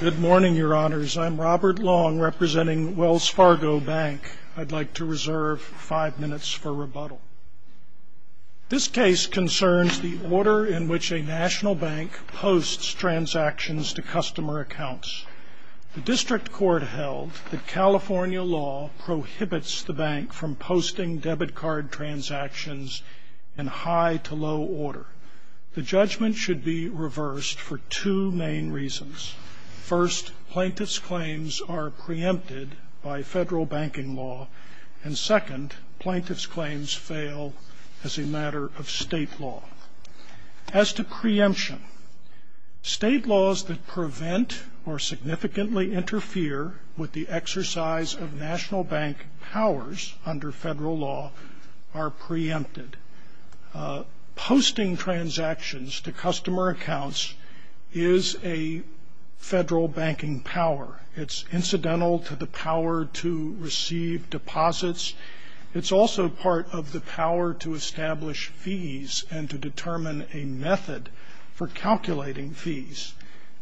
Good morning, your honors. I'm Robert Long, representing Wells Fargo Bank. I'd like to reserve five minutes for rebuttal. This case concerns the order in which a national bank posts transactions to customer accounts. The district court held that California law prohibits the bank from posting debit card transactions in high to low order. The judgment should be reversed for two main reasons. First, plaintiff's claims are preempted by federal banking law. And second, plaintiff's claims fail as a matter of state law. As to preemption, state laws that prevent or significantly interfere with the exercise of national bank powers under federal law are preempted. Posting transactions to customer accounts is a federal banking power. It's incidental to the power to receive deposits. It's also part of the power to establish fees and to determine a method for calculating fees.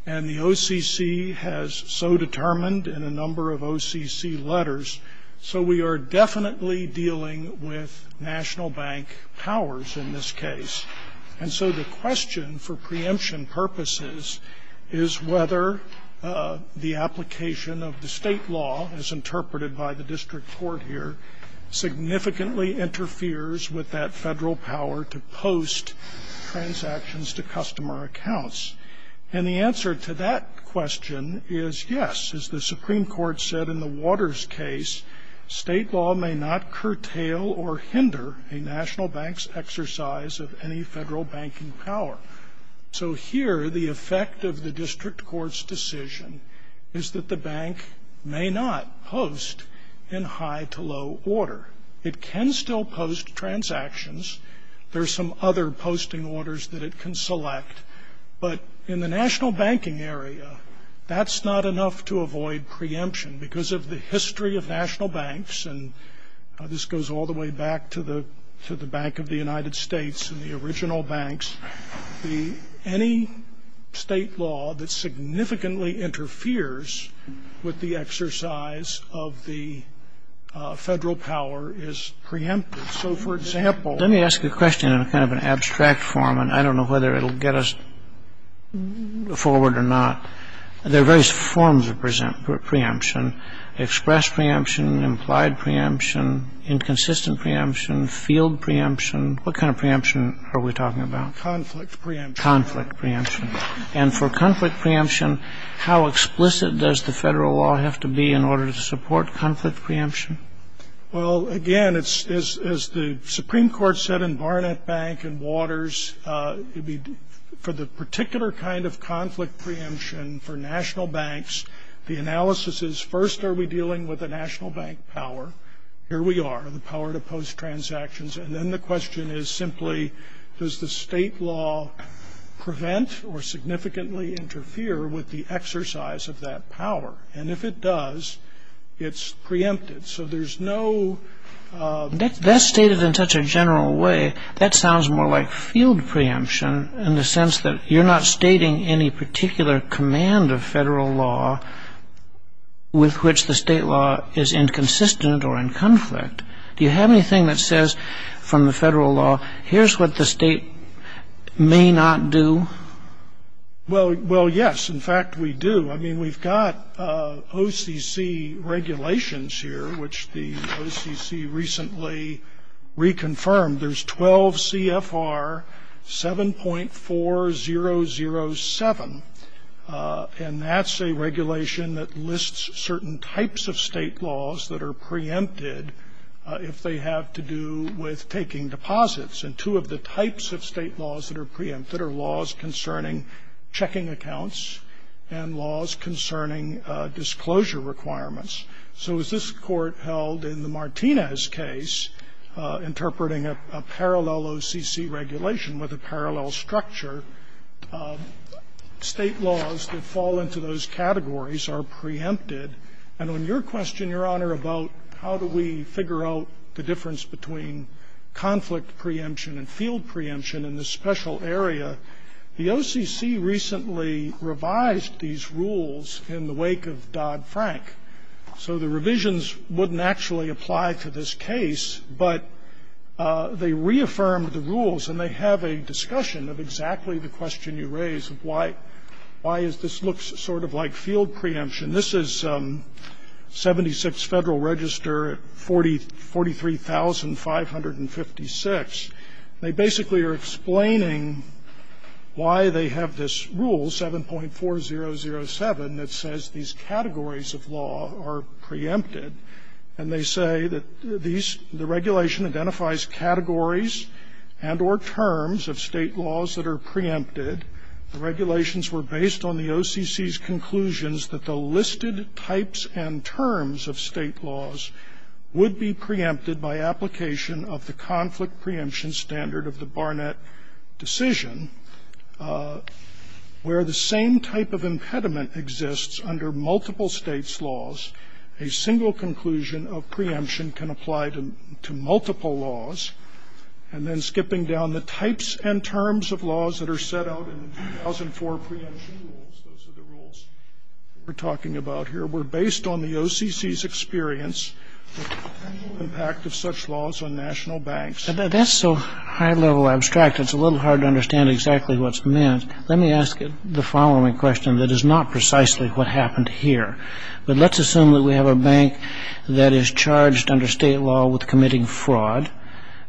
And the OCC has so determined in a number of OCC letters, so we are definitely dealing with national bank powers in this case. And so the question for preemption purposes is whether the application of the state law, as interpreted by the district court here, significantly interferes with that federal power to post transactions to customer accounts. And the answer to that question is yes. As the Supreme Court said in the Waters case, state law may not curtail or hinder a national bank's exercise of any federal banking power. So here the effect of the district court's decision is that the bank may not post in high to low order. It can still post transactions. There are some other posting orders that it can select. But in the national banking area, that's not enough to avoid preemption because of the history of national banks. And this goes all the way back to the Bank of the United States and the original banks. Any state law that significantly interferes with the exercise of the federal power is preempted. So for example Let me ask you a question in kind of an abstract form, and I don't know whether it will get us forward or not. There are various forms of preemption, express preemption, implied preemption, inconsistent preemption, field preemption. What kind of preemption are we talking about? Conflict preemption. Conflict preemption. And for conflict preemption, how explicit does the federal law have to be in order to support conflict preemption? Well, again, as the Supreme Court said in Barnett Bank and Waters, for the particular kind of conflict preemption for national banks, the analysis is, first, are we dealing with a national bank power? Here we are, the power to post transactions. And then the question is simply, does the state law prevent or significantly interfere with the exercise of that power? And if it does, it's preempted. So there's no That's stated in such a general way. That sounds more like field preemption in the sense that you're not stating any particular command of federal law with which the state law is inconsistent or in conflict. Do you have anything that says from the federal law, here's what the state may not do? Well, yes. In fact, we do. I mean, we've got OCC regulations here, which the OCC recently reconfirmed. There's 12 CFR 7.4007, and that's a regulation that lists certain types of state laws that are preempted if they have to do with taking deposits. And two of the types of state laws that are preempted are laws concerning checking accounts and laws concerning disclosure requirements. So as this Court held in the Martinez case, interpreting a parallel OCC regulation with a parallel structure, state laws that fall into those categories are preempted. And on your question, Your Honor, about how do we figure out the difference between conflict preemption and field preemption in this special area, the OCC recently revised these rules in the wake of Dodd-Frank. So the revisions wouldn't actually apply to this case, but they reaffirmed the rules, and they have a discussion of exactly the question you raised of why is this looks sort of like field preemption. This is 76 Federal Register 43,556. They basically are explaining why they have this rule, 7.4007, that says these categories of law are preempted. And they say that the regulation identifies categories and or terms of state laws that are preempted. The regulations were based on the OCC's conclusions that the listed types and terms of state laws would be preempted by application of the conflict preemption standard of the Barnett decision, where the same type of impediment exists under multiple states' laws. A single conclusion of preemption can apply to multiple laws. And then skipping down, the types and terms of laws that are set out in the 2004 preemption rules, those are the rules we're talking about here, were based on the OCC's experience of the potential impact of such laws on national banks. And that's so high-level abstract, it's a little hard to understand exactly what's meant. Let me ask the following question that is not precisely what happened here. But let's assume that we have a bank that is charged under state law with committing fraud.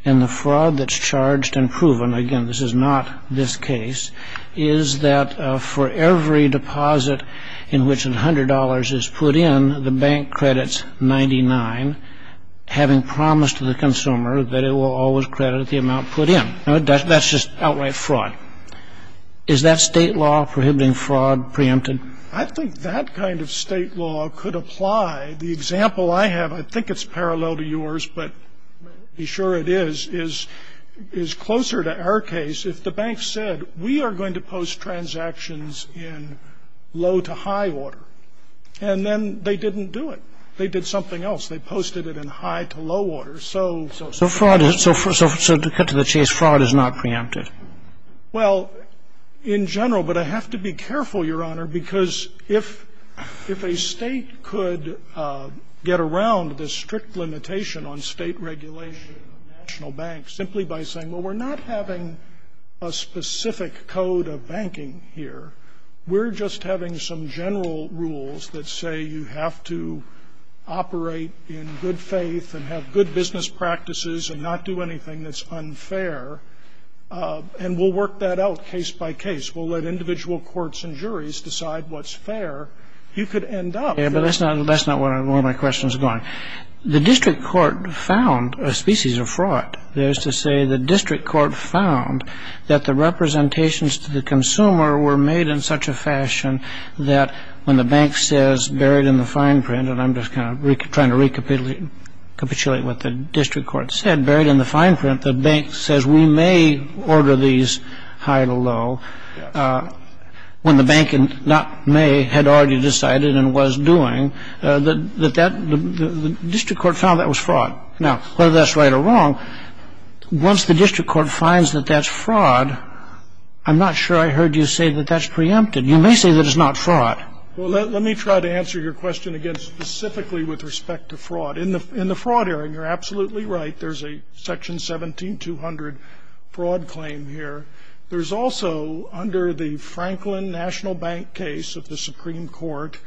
And the fraud that's charged and proven, again, this is not this case, is that for every deposit in which $100 is put in, the bank credits 99, having promised the consumer that it will always credit the amount put in. That's just outright fraud. Is that state law prohibiting fraud preempted? I think that kind of state law could apply. The example I have, I think it's parallel to yours, but be sure it is, is closer to our case. If the bank said, we are going to post transactions in low-to-high order, and then they didn't do it. They did something else. They posted it in high-to-low order. So the fraud is not preempted. Well, in general, but I have to be careful, Your Honor, because if a State could get around this strict limitation on State regulation of national banks simply by saying, well, we're not having a specific code of banking here. We're just having some general rules that say you have to operate in good faith and have good business practices and not do anything that's unfair. And we'll work that out case by case. We'll let individual courts and juries decide what's fair. You could end up. Yeah, but that's not where my question is going. The district court found a species of fraud. That is to say, the district court found that the representations to the consumer were made in such a fashion that when the bank says buried in the fine print, and I'm just kind of trying to recapitulate what the district court said, buried in the fine print, the bank says we may order these high-to-low, when the bank not may had already decided and was doing, that the district court found that was fraud. Now, whether that's right or wrong, once the district court finds that that's fraud, I'm not sure I heard you say that that's preempted. You may say that it's not fraud. Well, let me try to answer your question again specifically with respect to fraud. In the fraud area, you're absolutely right. There's a Section 17200 fraud claim here. There's also, under the Franklin National Bank case of the Supreme Court,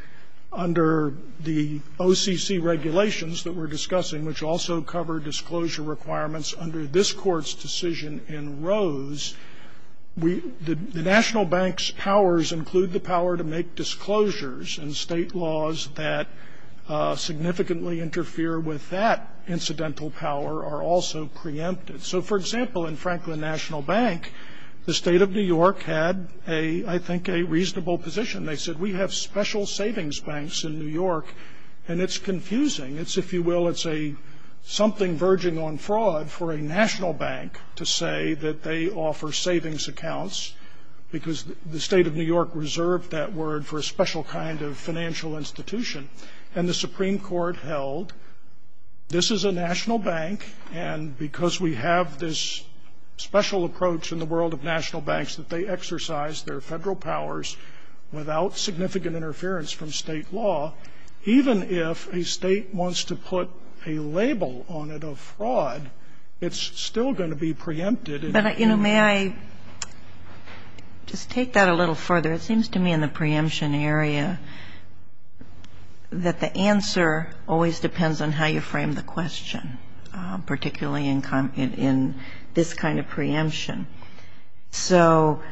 under the OCC regulations that we're discussing, which also cover disclosure requirements under this Court's decision in Rose, we the National Bank's powers include the power to make disclosures, and state laws that significantly interfere with that incidental power are also preempted. So, for example, in Franklin National Bank, the State of New York had a, I think, a reasonable position. They said, we have special savings banks in New York, and it's confusing. It's, if you will, it's a something verging on fraud for a national bank to say that they offer savings accounts, because the State of New York reserved that word for a special kind of financial institution. And the Supreme Court held, this is a national bank, and because we have this special approach in the world of national banks that they exercise their Federal powers without significant interference from State law, even if a State wants to put a label on it of fraud, it's still going to be preempted. But, you know, may I just take that a little further? It seems to me in the preemption area that the answer always depends on how you frame the question, particularly in this kind of preemption. So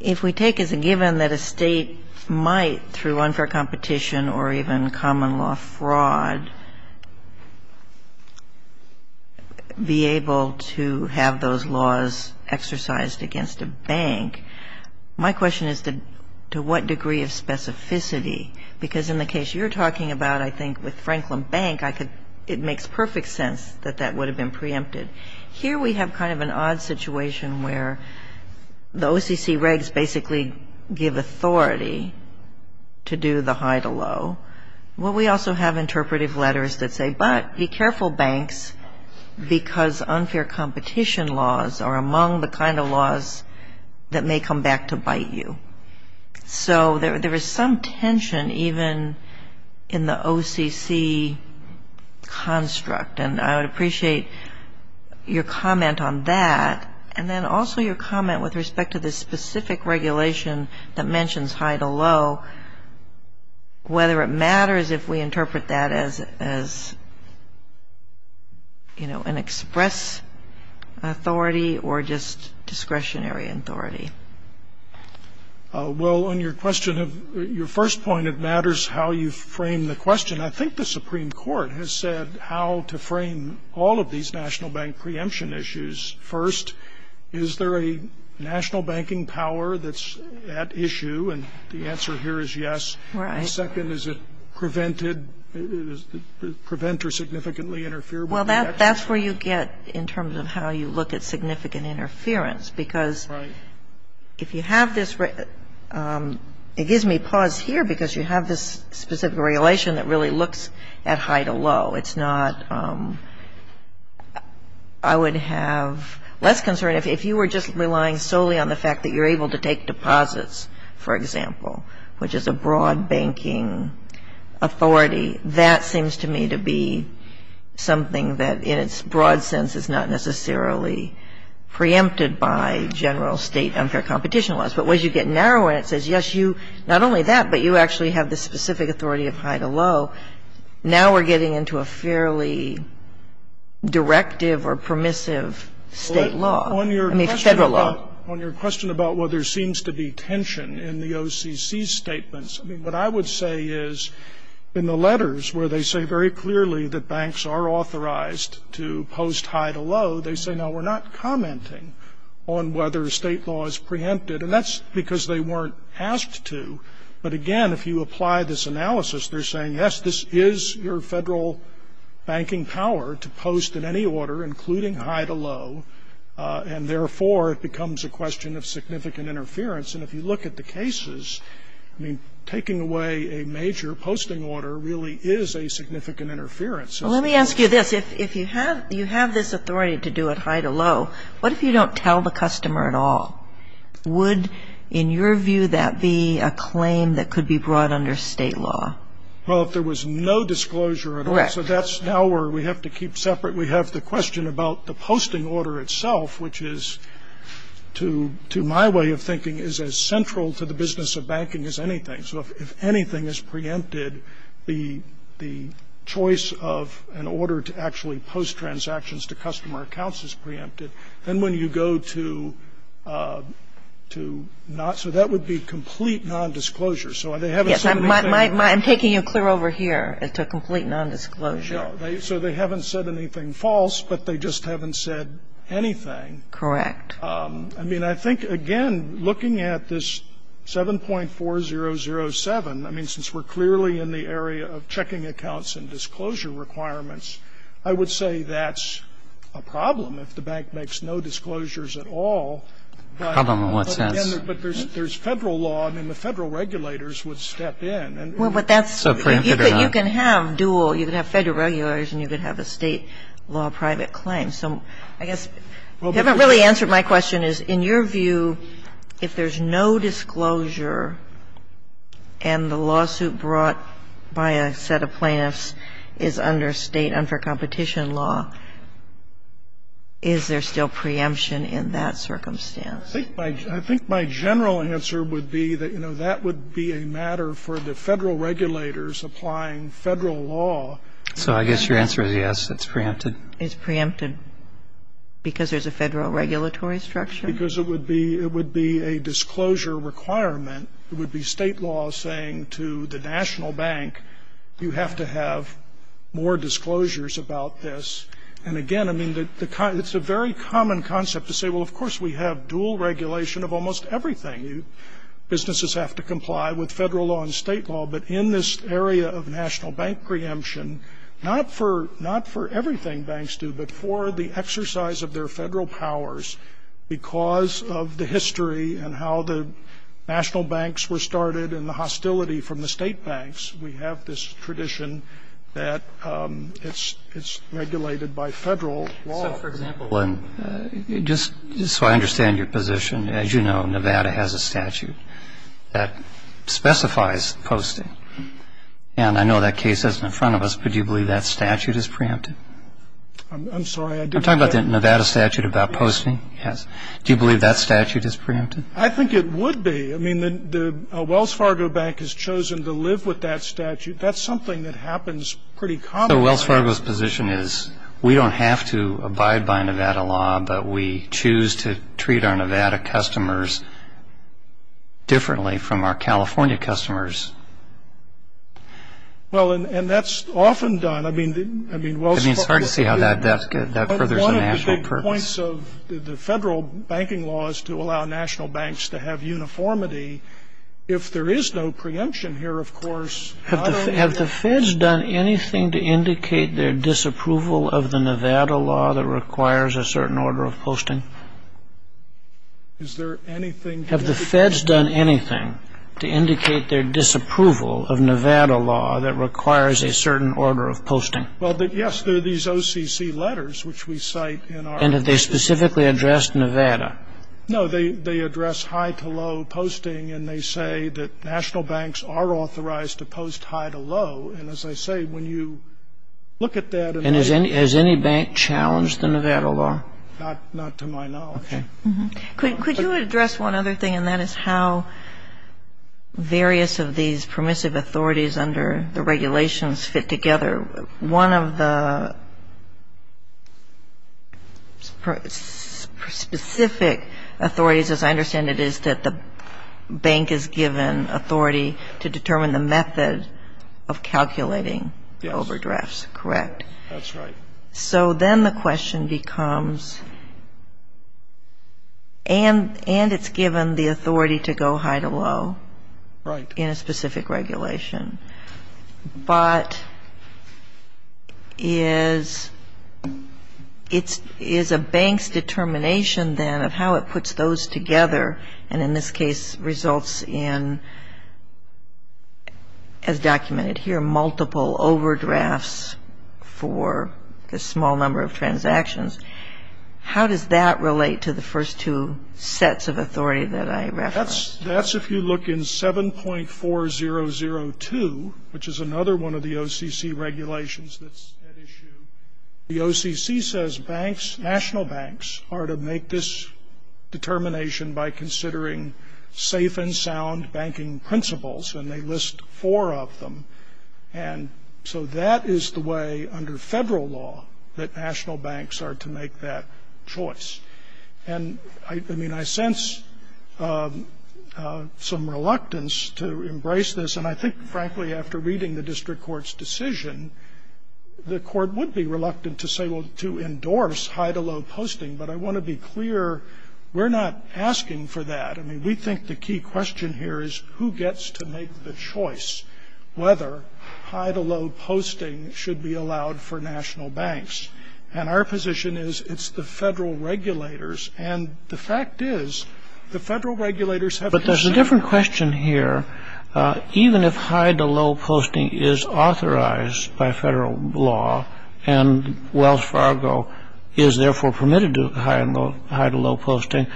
if we take as a given that a State might, through unfair competition or even common law fraud, be able to have those laws exercised against a bank, my question is to what degree of specificity, because in the case you're talking about, I think, with Franklin Bank, I could, it makes perfect sense that that would have been preempted. Here we have kind of an odd situation where the OCC regs basically give authority to do the high to low. Well, we also have interpretive letters that say, but be careful, banks, because unfair competition laws are among the kind of laws that may come back to bite you. So there is some tension even in the OCC construct, and I would appreciate your comment on that, and then also your comment with respect to the specific regulation that mentions high to low, whether it matters if we interpret that as, you know, an express authority or just discretionary authority. Well, on your question, your first point, it matters how you frame the question. I think the Supreme Court has said how to frame all of these national bank preemption issues. First, is there a national banking power that's at issue? And the answer here is yes. And second, is it prevented, does it prevent or significantly interfere? Well, that's where you get in terms of how you look at significant interference, because if you have this, it gives me pause here, because you have this specific regulation that really looks at high to low. It's not – I would have less concern if you were just relying solely on the fact that you're able to take deposits, for example, which is a broad banking authority. That seems to me to be something that in its broad sense is not necessarily preempted by general state unfair competition laws. But as you get narrower and it says, yes, you – not only that, but you actually have this specific authority of high to low, now we're getting into a fairly directive or permissive State law. On your question about whether there seems to be tension in the OCC's statements, I mean, what I would say is in the letters where they say very clearly that banks are authorized to post high to low, they say, no, we're not commenting on whether State law is preempted, and that's because they weren't asked to. But again, if you apply this analysis, they're saying, yes, this is your Federal banking power to post at any order, including high to low, and therefore, it becomes a question of significant interference. And if you look at the cases, I mean, taking away a major posting order really is a significant interference. Let me ask you this. If you have this authority to do it high to low, what if you don't tell the customer at all? Would, in your view, that be a claim that could be brought under State law? Well, if there was no disclosure at all, so that's now where we have to keep separate. We have the question about the posting order itself, which is, to my way of thinking, is as central to the business of banking as anything. So if anything is preempted, the choice of an order to actually post transactions to customer accounts is preempted. Then when you go to not, so that would be complete nondisclosure. So they haven't said anything. I'm taking it clear over here. It's a complete nondisclosure. Sure. So they haven't said anything false, but they just haven't said anything. Correct. I mean, I think, again, looking at this 7.4007, I mean, since we're clearly in the area of checking accounts and disclosure requirements, I would say that's a problem if the bank makes no disclosures at all. Problem in what sense? But there's Federal law. I mean, the Federal regulators would step in. Well, but that's so preempted or not. You can have dual. You can have Federal regulators and you can have a State law private claim. So I guess you haven't really answered my question is, in your view, if there's no disclosure and the lawsuit brought by a set of plaintiffs is under State, under competition law, is there still preemption in that circumstance? I think my general answer would be that, you know, that would be a matter for the Federal regulators applying Federal law. So I guess your answer is yes, it's preempted. It's preempted because there's a Federal regulatory structure? Because it would be a disclosure requirement. It would be State law saying to the National Bank, you have to have more disclosures about this. And, again, I mean, it's a very common concept to say, well, of course we have dual regulation of almost everything. Businesses have to comply with Federal law and State law. But in this area of National Bank preemption, not for everything banks do, but for the exercise of their Federal powers, because of the history and how the National Banks were started and the hostility from the State banks, we have this tradition that it's regulated by Federal law. So, for example, just so I understand your position, as you know, Nevada has a statute that specifies posting. And I know that case isn't in front of us, but do you believe that statute is preempted? I'm sorry, I didn't get that. I'm talking about the Nevada statute about posting. Yes. Do you believe that statute is preempted? I think it would be. I mean, the Wells Fargo Bank has chosen to live with that statute. That's something that happens pretty commonly. So Wells Fargo's position is we don't have to abide by Nevada law, but we choose to treat our Nevada customers differently from our California customers. Well, and that's often done. I mean, it's hard to see how that furthers a national purpose. But one of the big points of the Federal banking law is to allow National Banks to have uniformity. If there is no preemption here, of course, I don't know. Have the Feds done anything to indicate their disapproval of the Nevada law that requires a certain order of posting? Is there anything? Have the Feds done anything to indicate their disapproval of Nevada law that requires a certain order of posting? Well, yes, there are these OCC letters, which we cite in our... And have they specifically addressed Nevada? No, they address high-to-low posting, and they say that National Banks are authorized to post high-to-low. And as I say, when you look at that... And has any bank challenged the Nevada law? Not to my knowledge. Okay. Could you address one other thing, and that is how various of these permissive authorities under the regulations fit together? One of the specific authorities, as I understand it, is that the bank is given authority to determine the method of calculating overdrafts, correct? Yes, that's right. So then the question becomes, and it's given the authority to go high-to-low... Right. ...in a specific regulation. But is a bank's determination, then, of how it puts those together, and in this case results in, as documented here, multiple overdrafts for a small number of transactions, how does that relate to the first two sets of authority that I referenced? That's, if you look in 7.4002, which is another one of the OCC regulations that's at issue, the OCC says banks, national banks, are to make this determination by considering safe and sound banking principles, and they list four of them. And so that is the way, under federal law, that national banks are to make that choice. And, I mean, I sense some reluctance to embrace this. And I think, frankly, after reading the district court's decision, the court would be reluctant to say, well, to endorse high-to-low posting. But I want to be clear, we're not asking for that. I mean, we think the key question here is who gets to make the choice whether high-to-low posting should be allowed for national banks. And our position is it's the federal regulators. And the fact is the federal regulators have to decide. But there's a different question here. Even if high-to-low posting is authorized by federal law and Wells Fargo is therefore permitted to do high-to-low posting,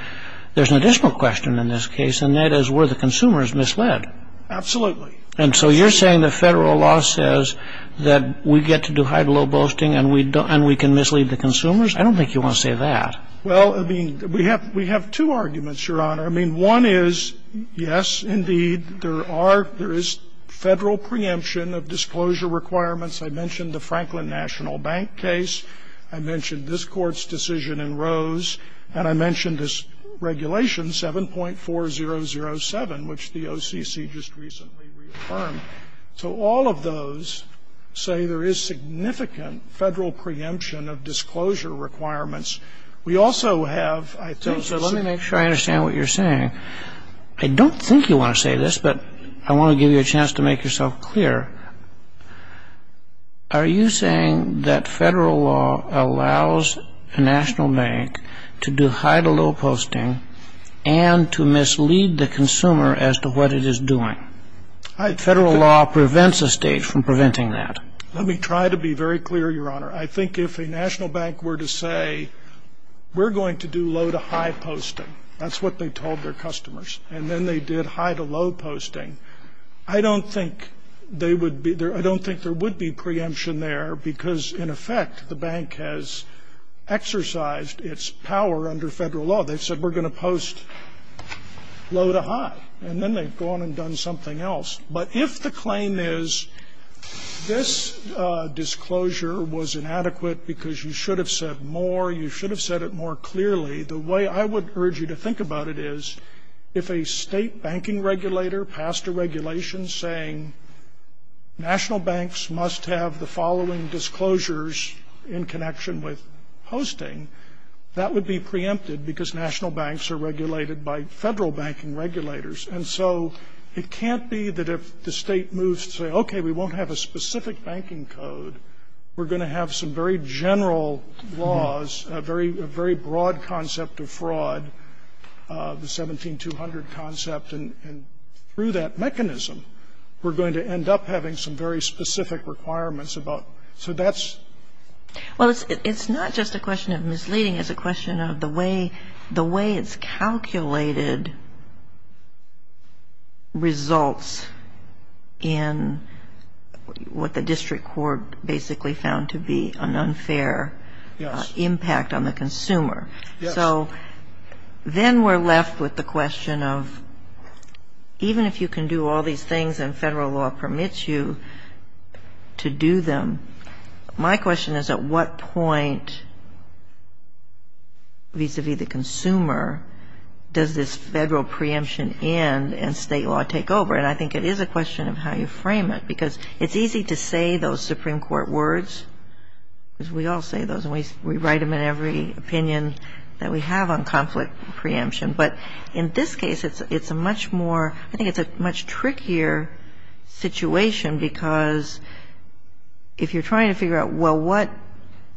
there's an additional question in this case, and that is were the consumers misled? Absolutely. And so you're saying the federal law says that we get to do high-to-low posting and we can mislead the consumers? I don't think you want to say that. Well, I mean, we have two arguments, Your Honor. I mean, one is, yes, indeed, there are, there is federal preemption of disclosure requirements. I mentioned the Franklin National Bank case. I mentioned this Court's decision in Rose. And I mentioned this regulation 7.4007, which the OCC just recently reaffirmed. So all of those say there is significant federal preemption of disclosure requirements. We also have, I think so. Let me make sure I understand what you're saying. I don't think you want to say this, but I want to give you a chance to make yourself clear. Are you saying that federal law allows a national bank to do high-to-low posting and to mislead the consumer as to what it is doing? Federal law prevents a state from preventing that. Let me try to be very clear, Your Honor. I think if a national bank were to say, we're going to do low-to-high posting, that's what they told their customers, and then they did high-to-low posting, I don't think they would be, I don't think there would be preemption there because, in effect, the bank has exercised its power under federal law. They've said, we're going to post low-to-high. And then they've gone and done something else. But if the claim is this disclosure was inadequate because you should have said more, you should have said it more clearly, the way I would urge you to think about it is if a state banking regulator passed a regulation saying national banks must have the following disclosures in connection with posting, that would be preempted because national banks are regulated by federal banking regulators. And so it can't be that if the state moves to say, okay, we won't have a specific banking code, we're going to have some very general laws, a very broad concept of fraud, the 17-200 concept, and through that mechanism, we're going to end up having some very specific requirements about, so that's. Well, it's not just a question of misleading. It's a question of the way it's calculated results in what the district court basically found to be an unfair impact on the consumer. So then we're left with the question of even if you can do all these things and federal law permits you to do them, my question is at what point vis-a-vis the consumer does this federal preemption end and state law take over? And I think it is a question of how you frame it because it's easy to say those Supreme Court words because we all say those and we write them in every opinion that we have on conflict preemption. But in this case, it's a much more, I think it's a much trickier situation because if you're trying to figure out, well, what,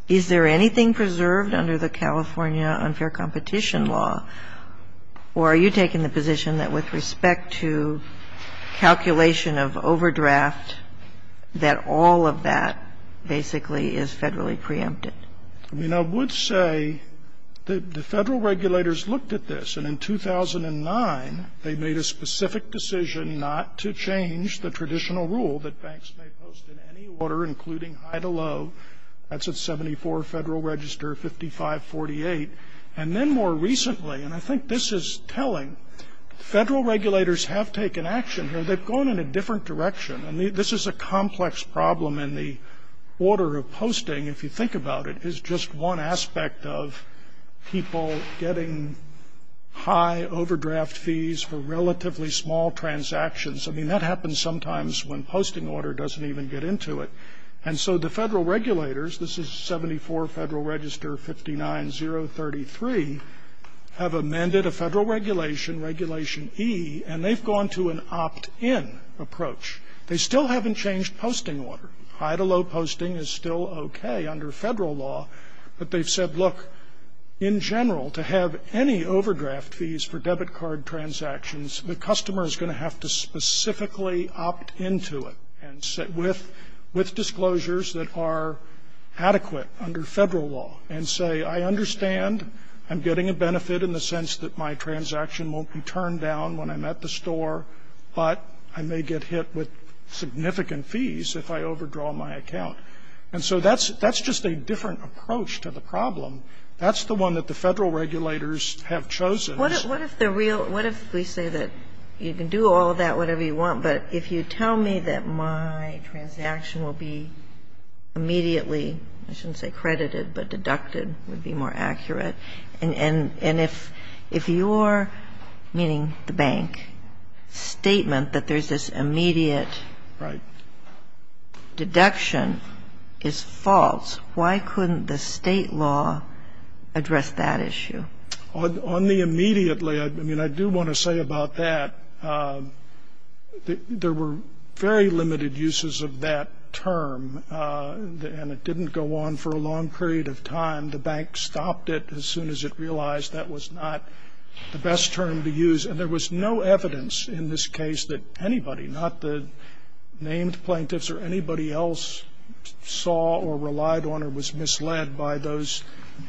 is there anything preserved under the California unfair competition law or are you taking the position that with respect to calculation of overdraft that all of that basically is federally preempted? I mean, I would say that the federal regulators looked at this and in 2009, they made a specific decision not to change the traditional rule that banks may post in any order including high to low. That's at 74 Federal Register, 5548. And then more recently, and I think this is telling, federal regulators have taken action here. They've gone in a different direction. And this is a complex problem in the order of posting. If you think about it, it's just one aspect of people getting high overdraft fees for relatively small transactions. I mean, that happens sometimes when posting order doesn't even get into it. And so the federal regulators, this is 74 Federal Register, 59033, have amended a federal regulation, Regulation E, and they've gone to an opt-in approach. They still haven't changed posting order. High to low posting is still okay under federal law, but they've said, look, in general, to have any overdraft fees for debit card transactions, the customer is going to have to specifically opt into it with disclosures that are adequate under federal law and say, I understand, I'm getting a benefit in the sense that my transaction won't be turned down when I'm at the store, but I may get hit with significant fees if I overdraw my account. And so that's just a different approach to the problem. That's the one that the federal regulators have chosen. What if the real – what if we say that you can do all of that, whatever you want, but if you tell me that my transaction will be immediately, I shouldn't say credited, but deducted would be more accurate. And if your, meaning the bank, statement that there's this immediate deduction is false, why couldn't the State law address that issue? On the immediately, I mean, I do want to say about that, there were very limited uses of that term, and it didn't go on for a long period of time. The bank stopped it as soon as it realized that was not the best term to use. And there was no evidence in this case that anybody, not the named plaintiffs or anybody else, saw or relied on or was misled by those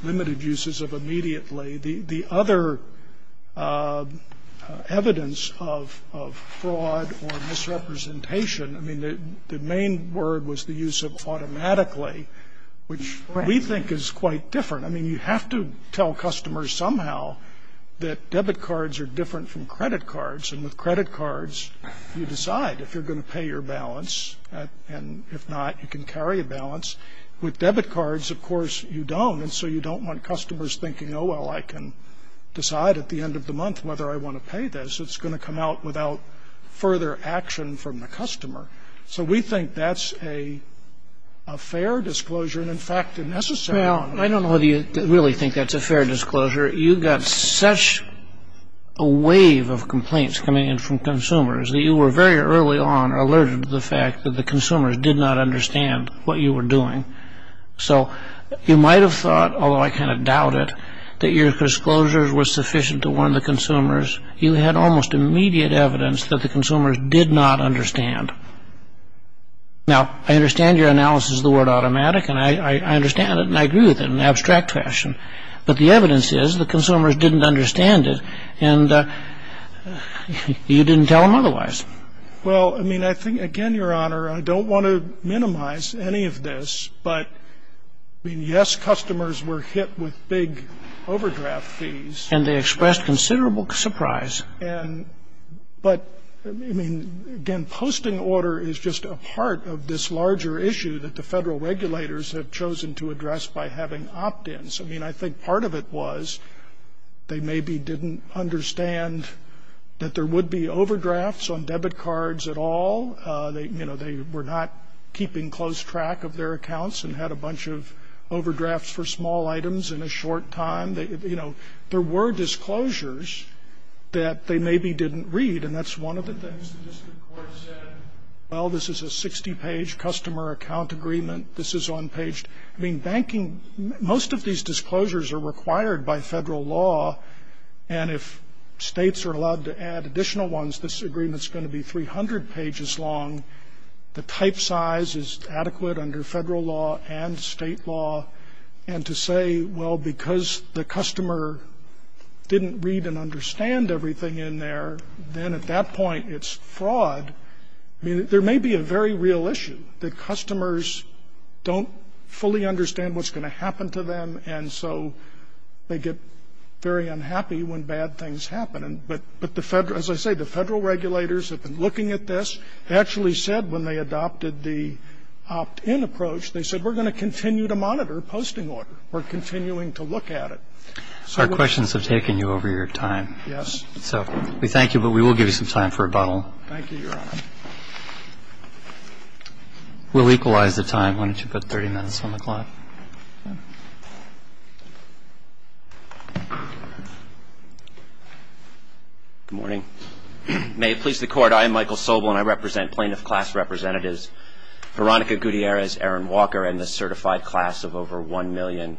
limited uses of immediately. The other evidence of fraud or misrepresentation, I mean, the main word was the use of automatically, which we think is quite different. I mean, you have to tell customers somehow that debit cards are different from credit cards, and with credit cards, you decide if you're going to pay your balance, and if not, you can carry a balance. With debit cards, of course, you don't, and so you don't want customers thinking, oh, well, I can decide at the end of the month whether I want to pay this. It's going to come out without further action from the customer. So we think that's a fair disclosure and, in fact, a necessary one. Well, I don't know whether you really think that's a fair disclosure. You got such a wave of complaints coming in from consumers that you were very early on alerted to the fact that the consumers did not understand what you were doing. So you might have thought, although I kind of doubt it, that your disclosure was sufficient to warn the consumers. You had almost immediate evidence that the consumers did not understand. Now, I understand your analysis of the word automatic, and I understand it, and I agree with it in an abstract fashion, but the evidence is the consumers didn't understand it, and you didn't tell them otherwise. Well, I mean, I think, again, Your Honor, I don't want to minimize any of this, but, I mean, yes, customers were hit with big overdraft fees. And they expressed considerable surprise. And but, I mean, again, posting order is just a part of this larger issue that the Federal regulators have chosen to address by having opt-ins. I mean, I think part of it was they maybe didn't understand that there would be overdrafts on debit cards at all. You know, they were not keeping close track of their accounts and had a bunch of overdrafts for small items in a short time. You know, there were disclosures that they maybe didn't read, and that's one of the things the district court said, well, this is a 60-page customer account agreement, this is unpaged. I mean, banking, most of these disclosures are required by Federal law, and if states are allowed to add additional ones, this agreement is going to be 300 pages long. The type size is adequate under Federal law and state law. And to say, well, because the customer didn't read and understand everything in there, then at that point it's fraud. I mean, there may be a very real issue that customers don't fully understand what's going to happen to them, and so they get very unhappy when bad things happen. But the Federal ‑‑ as I say, the Federal regulators have been looking at this. They actually said when they adopted the opt-in approach, they said, we're going to continue to monitor posting order. We're continuing to look at it. So we're ‑‑ Our questions have taken you over your time. Yes. So we thank you, but we will give you some time for rebuttal. Thank you, Your Honor. We'll equalize the time. Why don't you put 30 minutes on the clock? Good morning. May it please the Court, I am Michael Sobel, and I represent plaintiff class representatives Veronica Gutierrez, Aaron Walker, and the certified class of over 1 million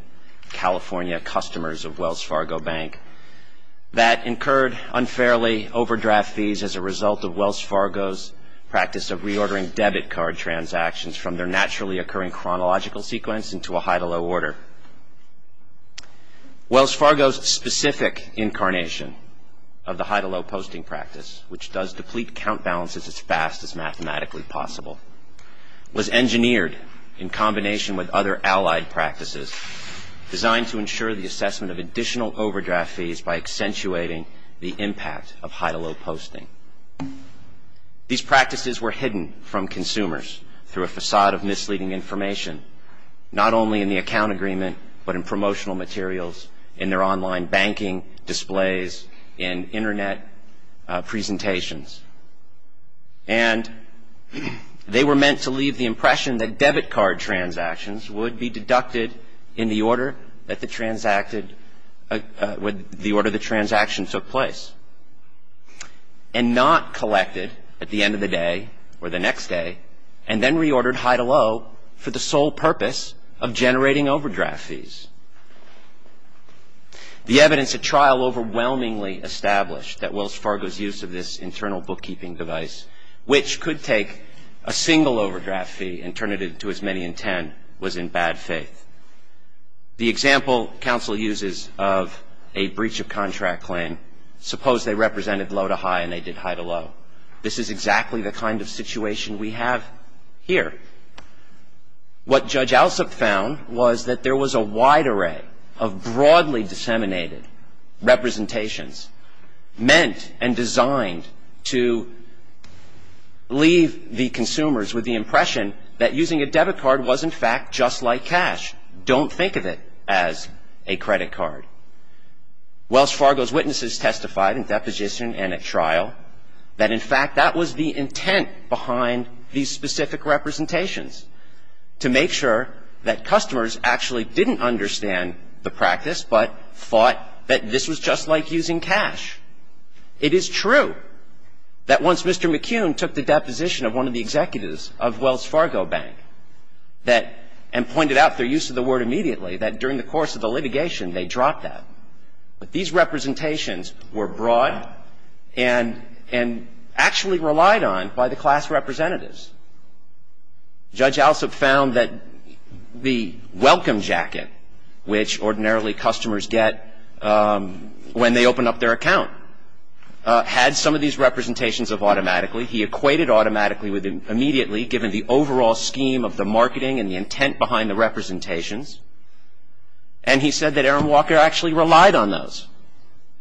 California customers of Wells Fargo Bank that incurred unfairly overdraft fees as a result of Wells Fargo's practice of reordering debit card transactions from their naturally occurring chronological sequence into a high-to-low order. Wells Fargo's specific incarnation of the high-to-low posting practice, which does deplete count balances as fast as mathematically possible, was engineered in combination with other allied practices designed to ensure the assessment of additional overdraft fees by accentuating the impact of high-to-low posting. These practices were hidden from consumers through a facade of misleading information, not only in the account agreement but in promotional materials, in their online banking displays, in Internet presentations. And they were meant to leave the impression that debit card transactions would be deducted in the order that the transaction took place. And not collected at the end of the day or the next day, and then reordered high-to-low for the sole purpose of generating overdraft fees. The evidence at trial overwhelmingly established that Wells Fargo's use of this internal bookkeeping device, which could take a single overdraft fee and turn it into as many as 10, was in bad faith. The example counsel uses of a breach of contract claim, suppose they represented low-to-high and they did high-to-low. This is exactly the kind of situation we have here. What Judge Alsup found was that there was a wide array of broadly disseminated representations meant and designed to leave the consumers with the impression that using a debit card was, in fact, just like cash. Don't think of it as a credit card. Wells Fargo's witnesses testified in deposition and at trial that, in fact, that was the intent behind these specific representations, to make sure that customers actually didn't understand the practice but thought that this was just like using cash. It is true that once Mr. McCune took the deposition of one of the executives of Wells Fargo Bank and pointed out their use of the word immediately, that during the course of the litigation they dropped that. But these representations were broad and actually relied on by the class representatives. Judge Alsup found that the welcome jacket, which ordinarily customers get when they open up their account, had some of these representations of automatically. He equated automatically with immediately, given the overall scheme of the marketing and the intent behind the representations. And he said that Erin Walker actually relied on those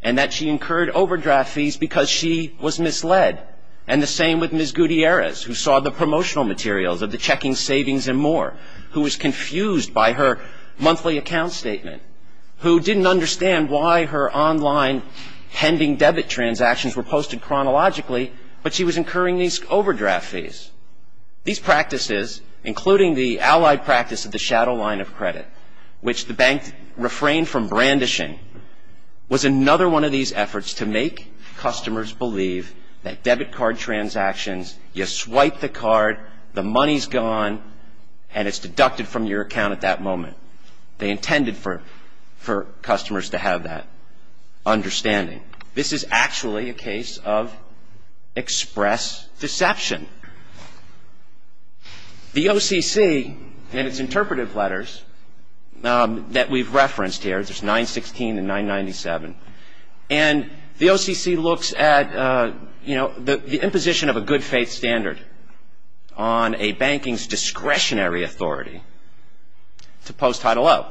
and that she incurred overdraft fees because she was misled. And the same with Ms. Gutierrez, who saw the promotional materials of the checking, savings, and more, who was confused by her monthly account statement, who didn't understand why her online pending debit transactions were posted chronologically, but she was incurring these overdraft fees. These practices, including the allied practice of the shadow line of credit, which the bank refrained from brandishing, was another one of these efforts to make customers believe that debit card transactions, you swipe the card, the money's gone, and it's deducted from your account at that moment. They intended for customers to have that understanding. This is actually a case of express deception. The OCC in its interpretive letters that we've referenced here, there's 916 and 997, and the OCC looks at, you know, the imposition of a good faith standard on a banking's discretionary authority to post Title O.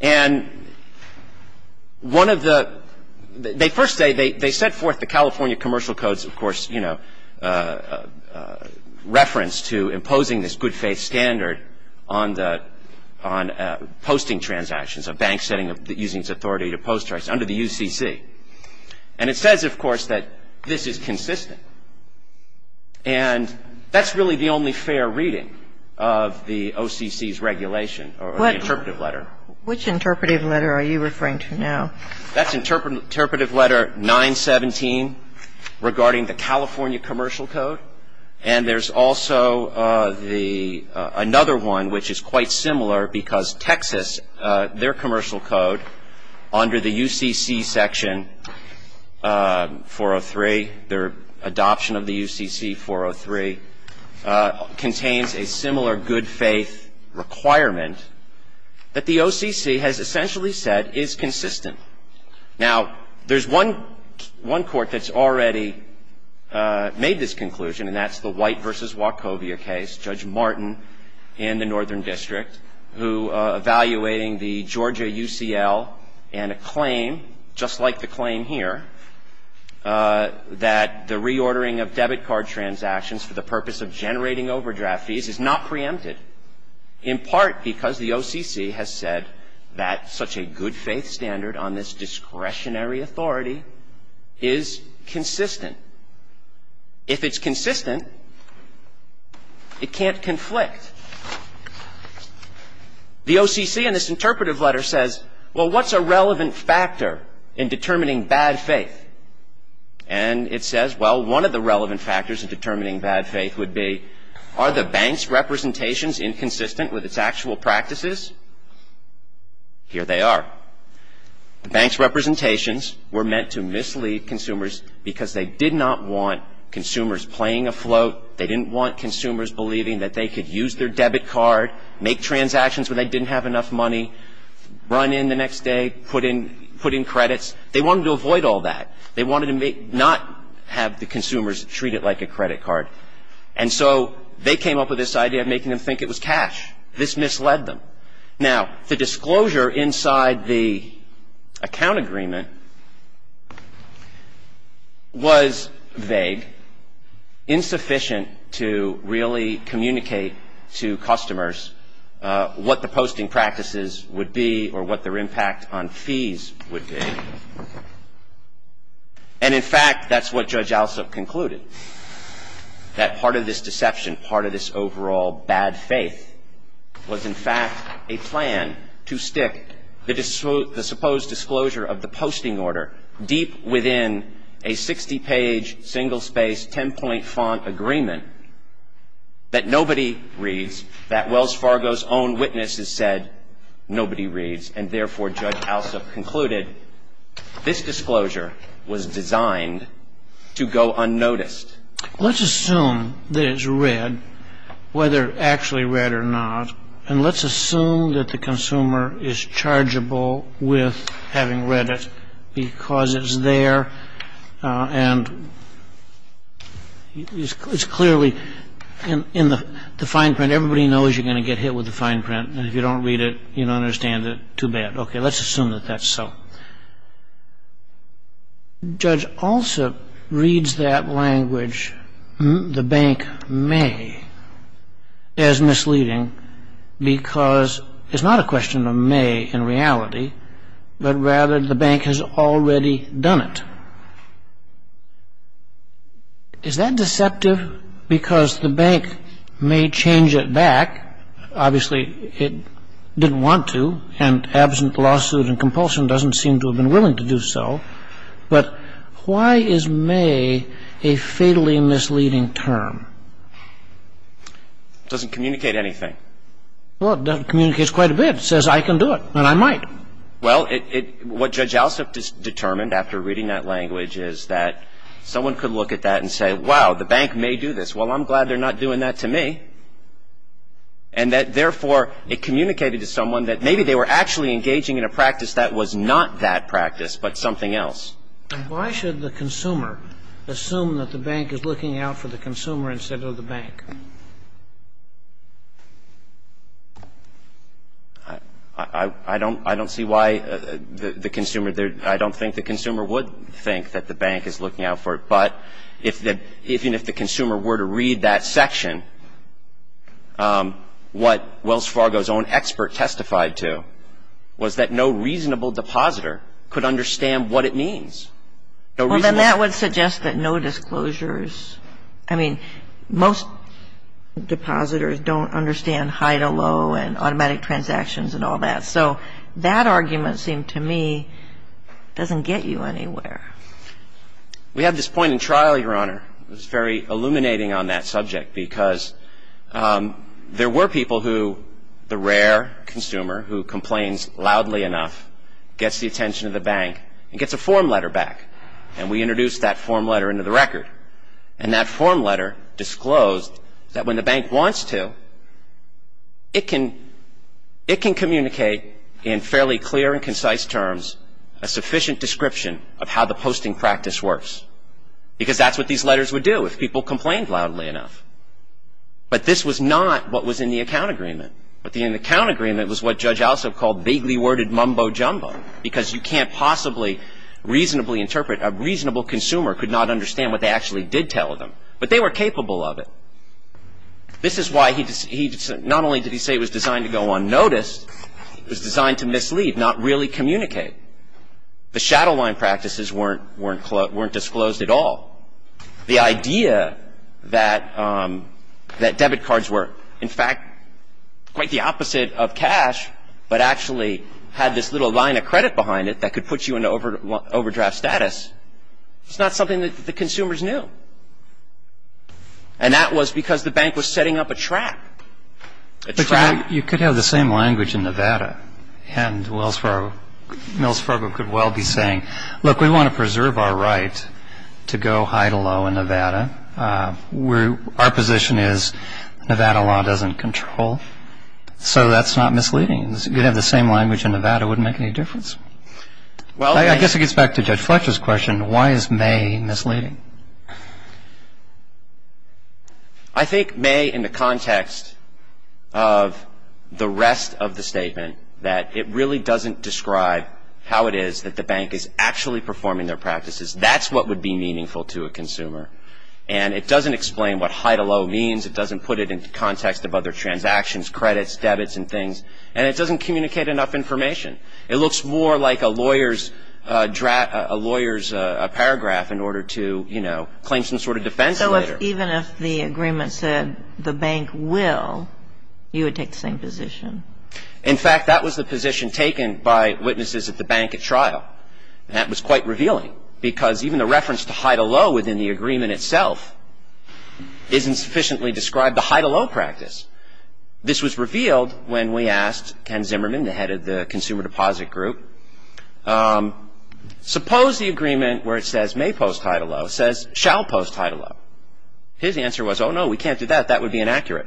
And one of the, they first say, they set forth the California Commercial Code's, of course, you know, reference to imposing this good faith standard on posting transactions, a bank setting using its authority to post under the UCC. And it says, of course, that this is consistent. And that's really the only fair reading of the OCC's regulation or the interpretive letter. Which interpretive letter are you referring to now? That's interpretive letter 917 regarding the California Commercial Code. And there's also another one which is quite similar because Texas, their commercial code under the UCC section 403, their adoption of the UCC 403, contains a similar good faith requirement that the OCC has essentially said is consistent. Now, there's one court that's already made this conclusion, and that's the White v. Wachovia case, Judge Martin and the Northern District, who evaluating the Georgia UCL and a claim, just like the claim here, that the reordering of debit card transactions for the purpose of generating overdraft fees is not preempted, in part because the OCC has said that such a good faith standard on this discretionary authority is consistent. If it's consistent, it can't conflict. The OCC in this interpretive letter says, well, what's a relevant factor in determining bad faith? And it says, well, one of the relevant factors in determining bad faith would be, are the bank's representations inconsistent with its actual practices? Here they are. The bank's representations were meant to mislead consumers because they did not want consumers playing afloat. They didn't want consumers believing that they could use their debit card, make transactions when they didn't have enough money, run in the next day, put in credits. They wanted to avoid all that. They wanted to not have the consumers treat it like a credit card. And so they came up with this idea of making them think it was cash. This misled them. Now, the disclosure inside the account agreement was vague, insufficient to really communicate to customers what the posting practices would be or what their impact on fees would be. And in fact, that's what Judge Alsup concluded, that part of this deception, part of this overall bad faith was, in fact, a plan to stick the supposed disclosure of the posting order deep within a 60-page, single-space, ten-point font agreement that nobody reads, that Wells Fargo's own witnesses said nobody reads. And therefore, Judge Alsup concluded this disclosure was designed to go unnoticed. Let's assume that it's read, whether actually read or not, and let's assume that the consumer is chargeable with having read it because it's there and it's clearly in the fine print. Everybody knows you're going to get hit with the fine print, and if you don't read it, you don't understand it, too bad. Okay, let's assume that that's so. Judge Alsup reads that language, the bank may, as misleading because it's not a question of may in reality, but rather the bank has already done it. Is that deceptive? Because the bank may change it back, obviously it didn't want to, and absent lawsuit and compulsion doesn't seem to have been willing to do so, but why is may a fatally misleading term? It doesn't communicate anything. Well, it communicates quite a bit. It says I can do it, and I might. Well, what Judge Alsup determined after reading that language is that someone could look at that and say, wow, the bank may do this. Well, I'm glad they're not doing that to me. And that, therefore, it communicated to someone that maybe they were actually engaging in a practice that was not that practice, but something else. Why should the consumer assume that the bank is looking out for the consumer instead of the bank? I don't see why the consumer there – I don't think the consumer would think that the bank is looking out for it. But even if the consumer were to read that section, what Wells Fargo's own expert testified to was that no reasonable depositor could understand what it means. Well, then that would suggest that no disclosures – I mean, most depositors don't understand high to low and automatic transactions and all that. So that argument seemed to me doesn't get you anywhere. We had this point in trial, Your Honor. It was very illuminating on that subject because there were people who the rare consumer who complains loudly enough gets the attention of the bank and gets a form letter back. And we introduced that form letter into the record. And that form letter disclosed that when the bank wants to, it can communicate in fairly clear and concise terms a sufficient description of how the posting practice works. Because that's what these letters would do if people complained loudly enough. But this was not what was in the account agreement. But the account agreement was what Judge Alsop called vaguely worded mumbo jumbo because you can't possibly reasonably interpret – a reasonable consumer could not understand what they actually did tell them. But they were capable of it. This is why he – not only did he say it was designed to go unnoticed, it was designed to mislead, not really communicate. The shadow line practices weren't disclosed at all. The idea that debit cards were, in fact, quite the opposite of cash, but actually had this little line of credit behind it that could put you in overdraft status, it's not something that the consumers knew. And that was because the bank was setting up a trap, a trap. But you could have the same language in Nevada. And Wells Fargo – Mills Fargo could well be saying, look, we want to preserve our right to go high to low in Nevada. Our position is Nevada law doesn't control. So that's not misleading. You could have the same language in Nevada. It wouldn't make any difference. I guess it gets back to Judge Fletcher's question. Why is May misleading? I think May, in the context of the rest of the statement, that it really doesn't describe how it is that the bank is actually performing their practices. That's what would be meaningful to a consumer. And it doesn't explain what high to low means. It doesn't put it in context of other transactions, credits, debits and things. And it doesn't communicate enough information. It looks more like a lawyer's paragraph in order to, you know, claim some sort of defense later. So even if the agreement said the bank will, you would take the same position? In fact, that was the position taken by witnesses at the bank at trial. And that was quite revealing because even the reference to high to low within the agreement itself isn't sufficiently described the high to low practice. This was revealed when we asked Ken Zimmerman, the head of the consumer deposit group, suppose the agreement where it says may post high to low says shall post high to low. His answer was, oh, no, we can't do that. That would be inaccurate.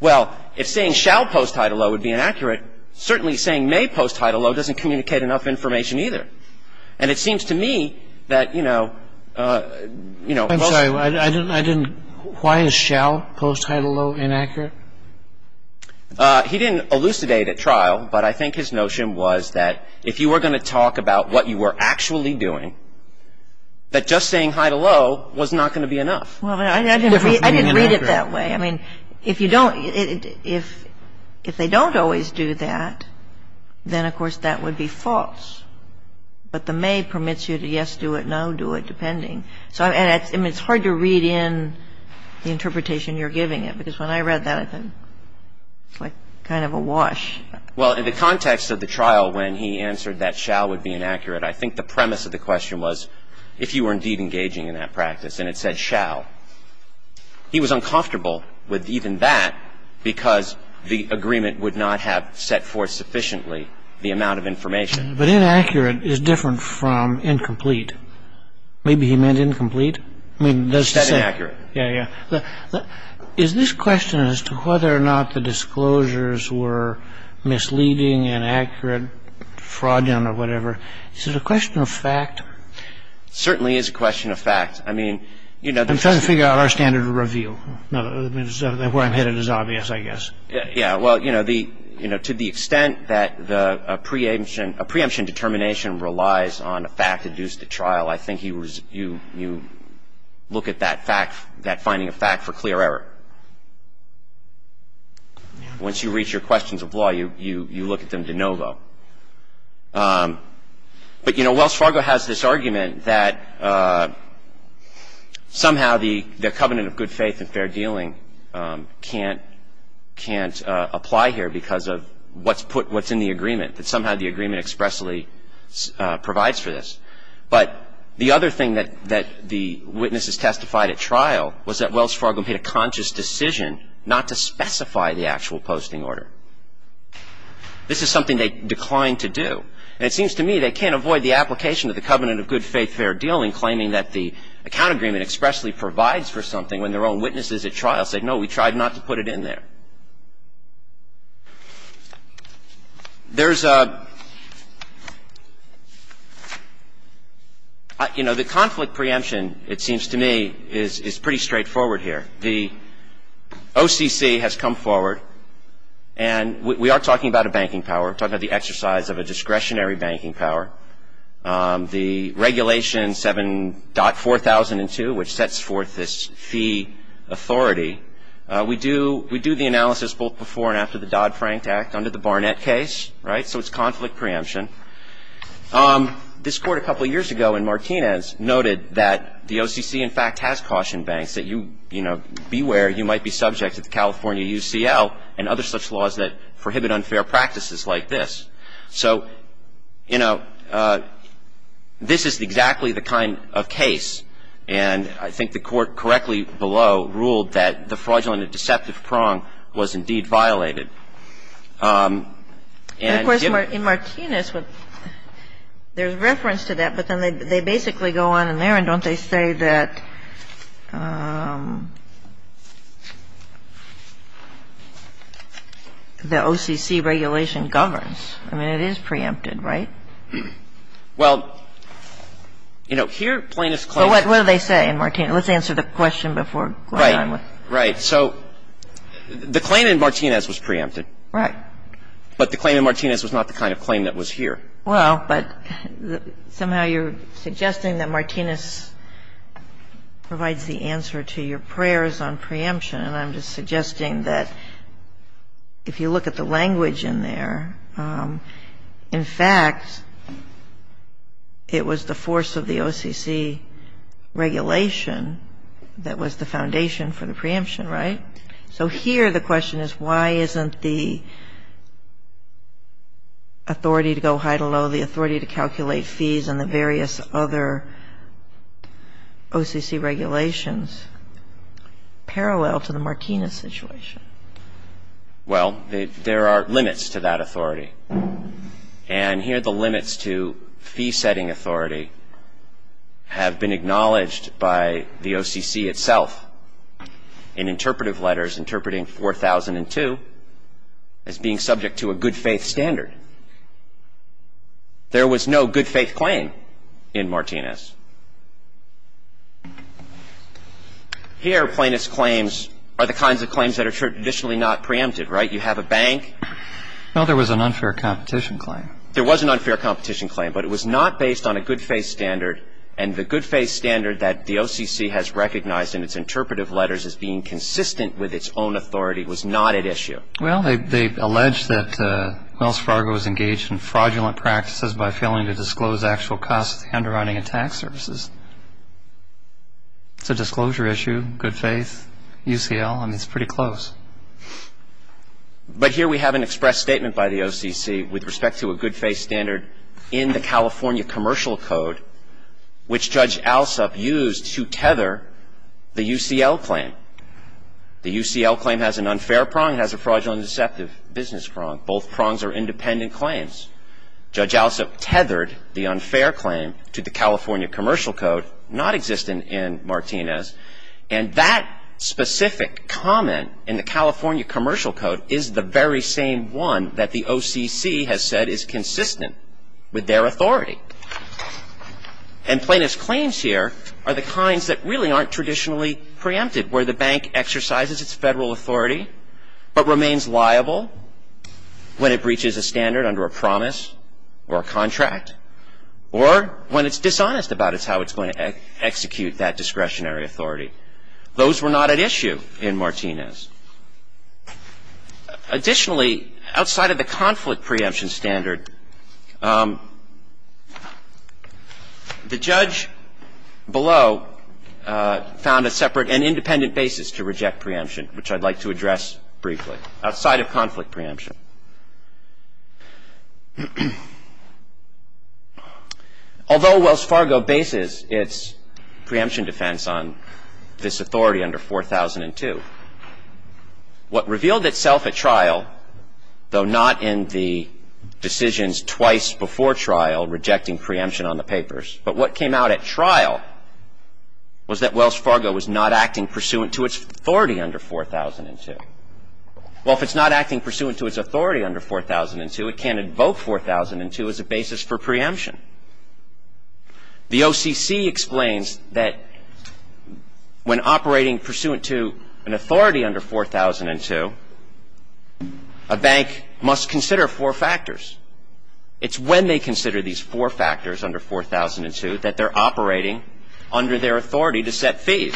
Well, if saying shall post high to low would be inaccurate, certainly saying may post high to low doesn't communicate enough information either. And it seems to me that, you know, you know. I'm sorry. I didn't. Why is shall post high to low inaccurate? He didn't elucidate at trial. But I think his notion was that if you were going to talk about what you were actually doing, that just saying high to low was not going to be enough. Well, I didn't read it that way. I mean, if you don't, if they don't always do that, then, of course, that would be false. But the may permits you to yes, do it, no, do it, depending. So, I mean, it's hard to read in the interpretation you're giving it. Because when I read that, I thought it's like kind of a wash. Well, in the context of the trial when he answered that shall would be inaccurate, I think the premise of the question was if you were indeed engaging in that practice and it said shall. He was uncomfortable with even that because the agreement would not have set forth sufficiently the amount of information. But inaccurate is different from incomplete. Maybe he meant incomplete. Setting accurate. Yeah, yeah. Is this question as to whether or not the disclosures were misleading, inaccurate, fraudulent or whatever, is it a question of fact? It certainly is a question of fact. I mean, you know. I'm trying to figure out our standard of review. Where I'm headed is obvious, I guess. Yeah, well, you know, to the extent that a preemption determination relies on a fact-induced trial, I think you look at that finding of fact for clear error. Once you reach your questions of law, you look at them de novo. But, you know, Wells Fargo has this argument that somehow the covenant of good faith and fair dealing can't apply here because of what's in the agreement, that somehow the agreement expressly provides for this. But the other thing that the witnesses testified at trial was that Wells Fargo made a conscious decision not to specify the actual posting order. This is something they declined to do. And it seems to me they can't avoid the application of the covenant of good faith, fair dealing, and claiming that the account agreement expressly provides for something when their own witnesses at trial say, no, we tried not to put it in there. There's a, you know, the conflict preemption, it seems to me, is pretty straightforward here. The OCC has come forward, and we are talking about a banking power, talking about the exercise of a discretionary banking power. The regulation 7.4002, which sets forth this fee authority, we do the analysis both before and after the Dodd-Frank Act under the Barnett case, right? So it's conflict preemption. This Court a couple of years ago in Martinez noted that the OCC, in fact, has cautioned banks that you, you know, beware, you might be subject to the California UCL and other such laws that prohibit unfair practices like this. So, you know, this is exactly the kind of case, and I think the Court correctly below ruled that the fraudulent and deceptive prong was indeed violated. And if you're... And, of course, in Martinez, there's reference to that, but then they basically go on in there and don't they say that the OCC regulation governs? I mean, it is preempted, right? Well, you know, here Plaintiff's claim... So what do they say in Martinez? Let's answer the question before going on with... Right. So the claim in Martinez was preempted. Right. But the claim in Martinez was not the kind of claim that was here. Well, but somehow you're suggesting that Martinez provides the answer to your prayers on preemption, and I'm just suggesting that if you look at the language in there, in fact, it was the force of the OCC regulation that was the foundation for the preemption, right? So here the question is why isn't the authority to go high to low, the authority to calculate fees and the various other OCC regulations parallel to the Martinez situation? Well, there are limits to that authority. And here the limits to fee-setting authority have been acknowledged by the OCC itself. In interpretive letters interpreting 4002 as being subject to a good-faith standard, there was no good-faith claim in Martinez. Here Plaintiff's claims are the kinds of claims that are traditionally not preempted, right? You have a bank. Well, there was an unfair competition claim. There was an unfair competition claim, but it was not based on a good-faith standard, and the good-faith standard that the OCC has recognized in its interpretive letters as being consistent with its own authority was not at issue. Well, they allege that Wells Fargo is engaged in fraudulent practices by failing to disclose actual costs of the underwriting of tax services. It's a disclosure issue, good faith, UCL. I mean, it's pretty close. But here we have an express statement by the OCC with respect to a good-faith standard in the California Commercial Code, which Judge Alsup used to tether the UCL claim. The UCL claim has an unfair prong. It has a fraudulent and deceptive business prong. Both prongs are independent claims. Judge Alsup tethered the unfair claim to the California Commercial Code, not existent in Martinez, and that specific comment in the California Commercial Code is the very same one that the OCC has said is consistent with their authority. And plaintiff's claims here are the kinds that really aren't traditionally preempted, where the bank exercises its federal authority but remains liable when it breaches a standard under a promise or a contract, or when it's dishonest about how it's going to execute that discretionary authority. Those were not at issue in Martinez. Additionally, outside of the conflict preemption standard, the judge below found a separate and independent basis to reject preemption, which I'd like to address briefly, outside of conflict preemption. Although Wells Fargo bases its preemption defense on this authority under 4002, what revealed itself at trial, though not in the decisions twice before trial rejecting preemption on the papers, but what came out at trial was that Wells Fargo was not acting pursuant to its authority under 4002. Well, if it's not acting pursuant to its authority under 4002, it can't invoke 4002 as a basis for preemption. The OCC explains that when operating pursuant to an authority under 4002, a bank must consider four factors. It's when they consider these four factors under 4002 that they're operating under their authority to set fees.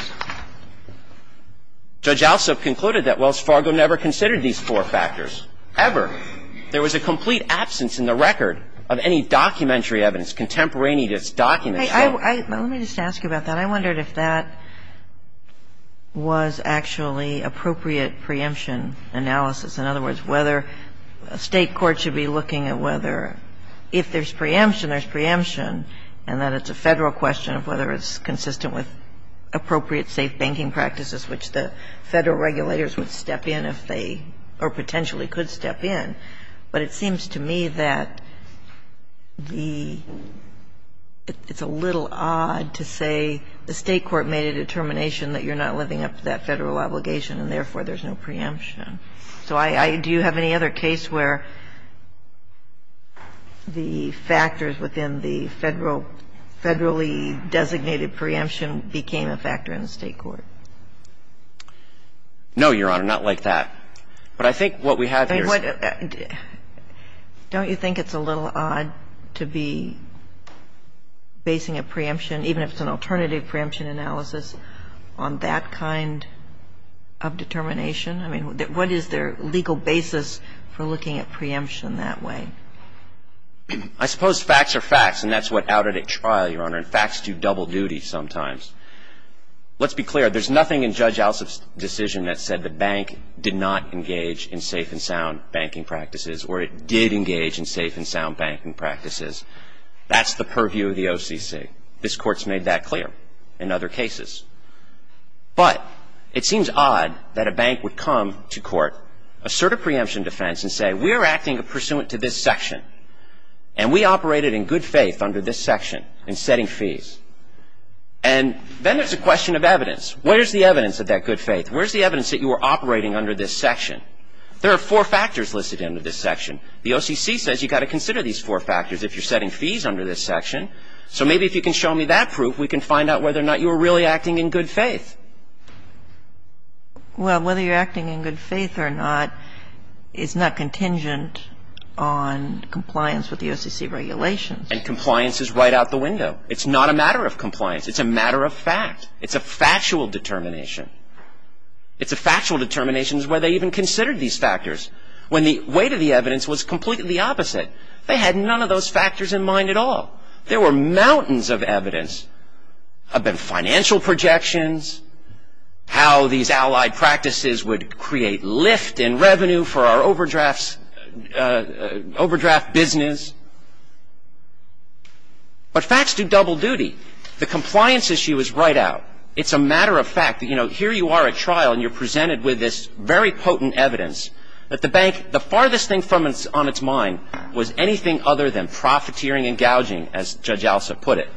Judge Alsop concluded that Wells Fargo never considered these four factors, ever. There was a complete absence in the record of any documentary evidence, contemporaneous documents. Let me just ask you about that. I wondered if that was actually appropriate preemption analysis. In other words, whether a State court should be looking at whether if there's preemption, there's preemption, and that it's a Federal question of whether it's consistent with appropriate safe banking practices, which the Federal regulators would step in if they or potentially could step in. But it seems to me that the — it's a little odd to say the State court made a determination that you're not living up to that Federal obligation and, therefore, there's no preemption. So I — do you have any other case where the factors within the Federal — Federally designated preemption became a factor in the State court? No, Your Honor, not like that. But I think what we have here is — I mean, what — don't you think it's a little odd to be basing a preemption, even if it's an alternative preemption analysis, on that kind of determination? I mean, what is their legal basis for looking at preemption that way? I suppose facts are facts, and that's what outed at trial, Your Honor. And facts do double duty sometimes. Let's be clear. There's nothing in Judge Alsop's decision that said the bank did not engage in safe and sound banking practices, or it did engage in safe and sound banking practices. That's the purview of the OCC. This Court's made that clear in other cases. But it seems odd that a bank would come to court, assert a preemption defense, and say, we're acting pursuant to this section, and we operated in good faith under this section and setting fees. And then there's a question of evidence. Where's the evidence of that good faith? Where's the evidence that you were operating under this section? There are four factors listed under this section. The OCC says you've got to consider these four factors if you're setting fees under this section. So maybe if you can show me that proof, we can find out whether or not you were really acting in good faith. Well, whether you're acting in good faith or not is not contingent on compliance with the OCC regulations. And compliance is right out the window. It's not a matter of compliance. It's a matter of fact. It's a factual determination. It's a factual determination where they even considered these factors, when the weight of the evidence was completely opposite. They had none of those factors in mind at all. There were mountains of evidence about financial projections, how these allied practices would create lift in revenue for our overdraft business. But facts do double duty. The compliance issue is right out. It's a matter of fact. Here you are at trial and you're presented with this very potent evidence that the bank, the farthest thing on its mind was anything other than profiteering and gouging, as Judge Alsop put it.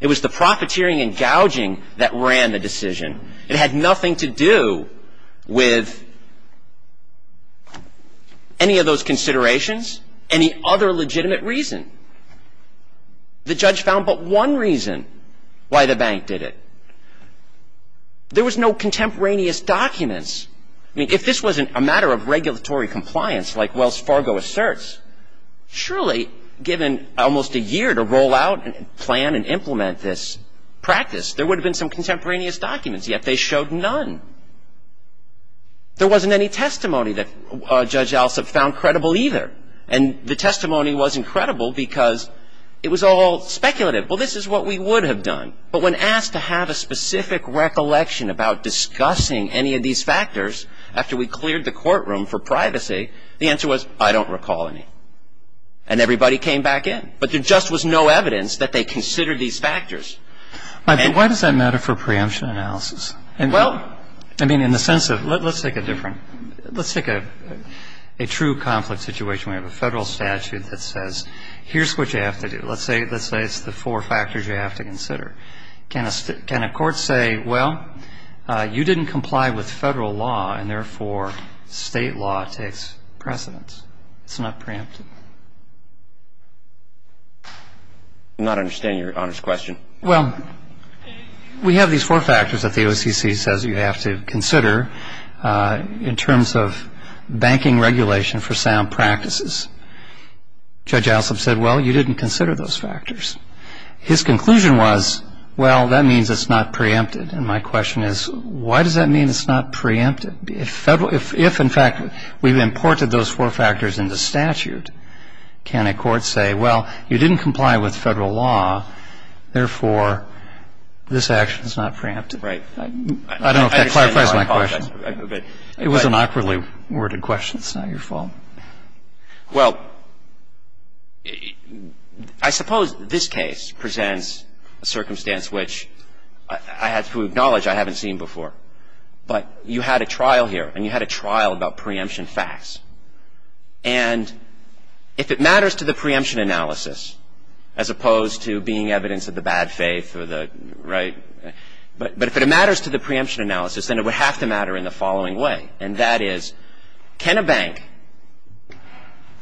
It was the profiteering and gouging that ran the decision. It had nothing to do with any of those considerations, any other legitimate reason. The judge found but one reason why the bank did it. There was no contemporaneous documents. I mean, if this wasn't a matter of regulatory compliance, like Wells Fargo asserts, surely given almost a year to roll out and plan and implement this practice, there would have been some contemporaneous documents. Yet they showed none. There wasn't any testimony that Judge Alsop found credible either. And the testimony wasn't credible because it was all speculative. Well, this is what we would have done. But when asked to have a specific recollection about discussing any of these factors after we cleared the courtroom for privacy, the answer was, I don't recall any. And everybody came back in. But there just was no evidence that they considered these factors. But why does that matter for preemption analysis? Well. I mean, in the sense of let's take a different, let's take a true conflict situation. We have a federal statute that says here's what you have to do. Let's say it's the four factors you have to consider. Can a court say, well, you didn't comply with federal law, and therefore state law takes precedence? It's not preemptive. I do not understand Your Honor's question. Well, we have these four factors that the OCC says you have to consider in terms of banking regulation for sound practices. Judge Alsop said, well, you didn't consider those factors. His conclusion was, well, that means it's not preemptive. And my question is, why does that mean it's not preemptive? If, in fact, we've imported those four factors into statute, can a court say, well, you didn't comply with federal law, therefore this action is not preemptive? I don't know if that clarifies my question. It was an awkwardly worded question. It's not your fault. Well, I suppose this case presents a circumstance which I have to acknowledge I haven't seen before. But you had a trial here, and you had a trial about preemption facts. And if it matters to the preemption analysis, as opposed to being evidence of the bad faith or the, right, but if it matters to the preemption analysis, then it would have to matter in the following way, and that is, can a bank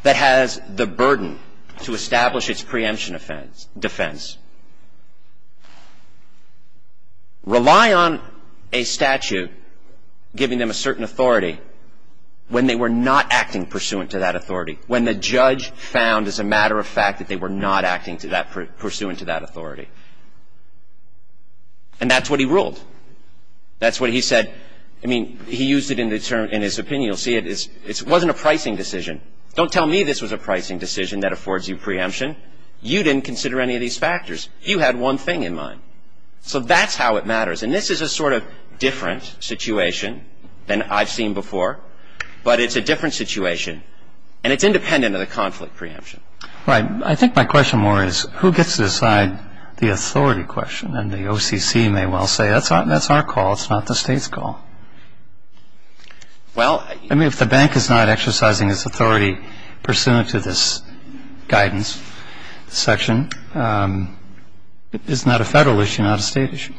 that has the burden to establish its preemption defense rely on a statute giving them a certain authority when they were not acting pursuant to that authority, when the judge found as a matter of fact that they were not acting pursuant to that authority? And that's what he ruled. That's what he said. I mean, he used it in his opinion. You'll see it. It wasn't a pricing decision. Don't tell me this was a pricing decision that affords you preemption. You didn't consider any of these factors. You had one thing in mind. So that's how it matters. And this is a sort of different situation than I've seen before, but it's a different situation, and it's independent of the conflict preemption. Right. I think my question more is, who gets to decide the authority question? And the OCC may well say, that's our call. It's not the State's call. I mean, if the bank is not exercising its authority pursuant to this guidance section, it's not a Federal issue, not a State issue.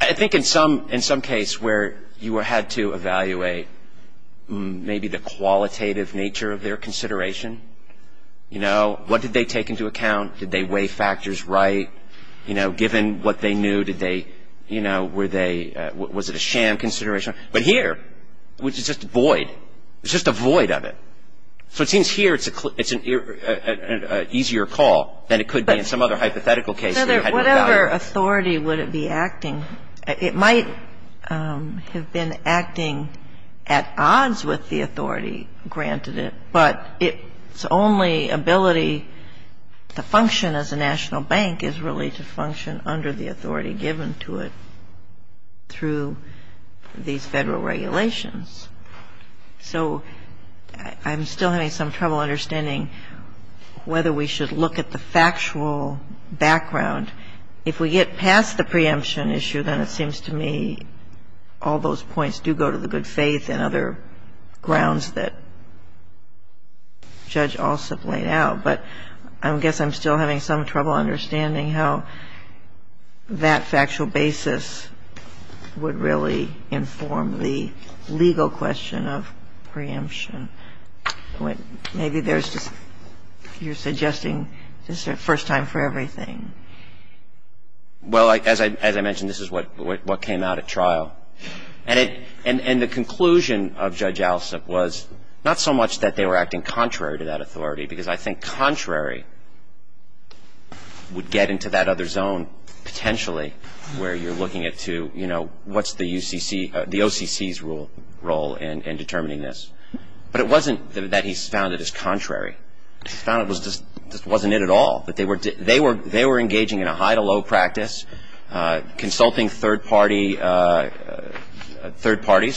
I think in some case where you had to evaluate maybe the qualitative nature of their consideration, you know, what did they take into account? Did they weigh factors right? You know, given what they knew, did they, you know, were they, was it a sham consideration? But here, it's just a void. It's just a void of it. So it seems here it's an easier call than it could be in some other hypothetical case where you had to evaluate. Whatever authority would it be acting, it might have been acting at odds with the authority, granted it. But its only ability to function as a national bank is really to function under the authority given to it through these Federal regulations. So I'm still having some trouble understanding whether we should look at the factual background. If we get past the preemption issue, then it seems to me all those points do go to the preemption issue. And I guess I'm still having some trouble understanding how that factual basis would really inform the legal question of preemption. Maybe there's just, you're suggesting this is a first time for everything. Well, as I mentioned, this is what came out at trial. And the conclusion of Judge Allison was not so much that they were acting contrary to that authority, because I think contrary would get into that other zone, potentially, where you're looking at to, you know, what's the OCC's role in determining this. But it wasn't that he found it as contrary. He found it just wasn't it at all. Have you ever been under the impression that the people in the trial, that they were engaging in a high-to-low practice, consulting third parties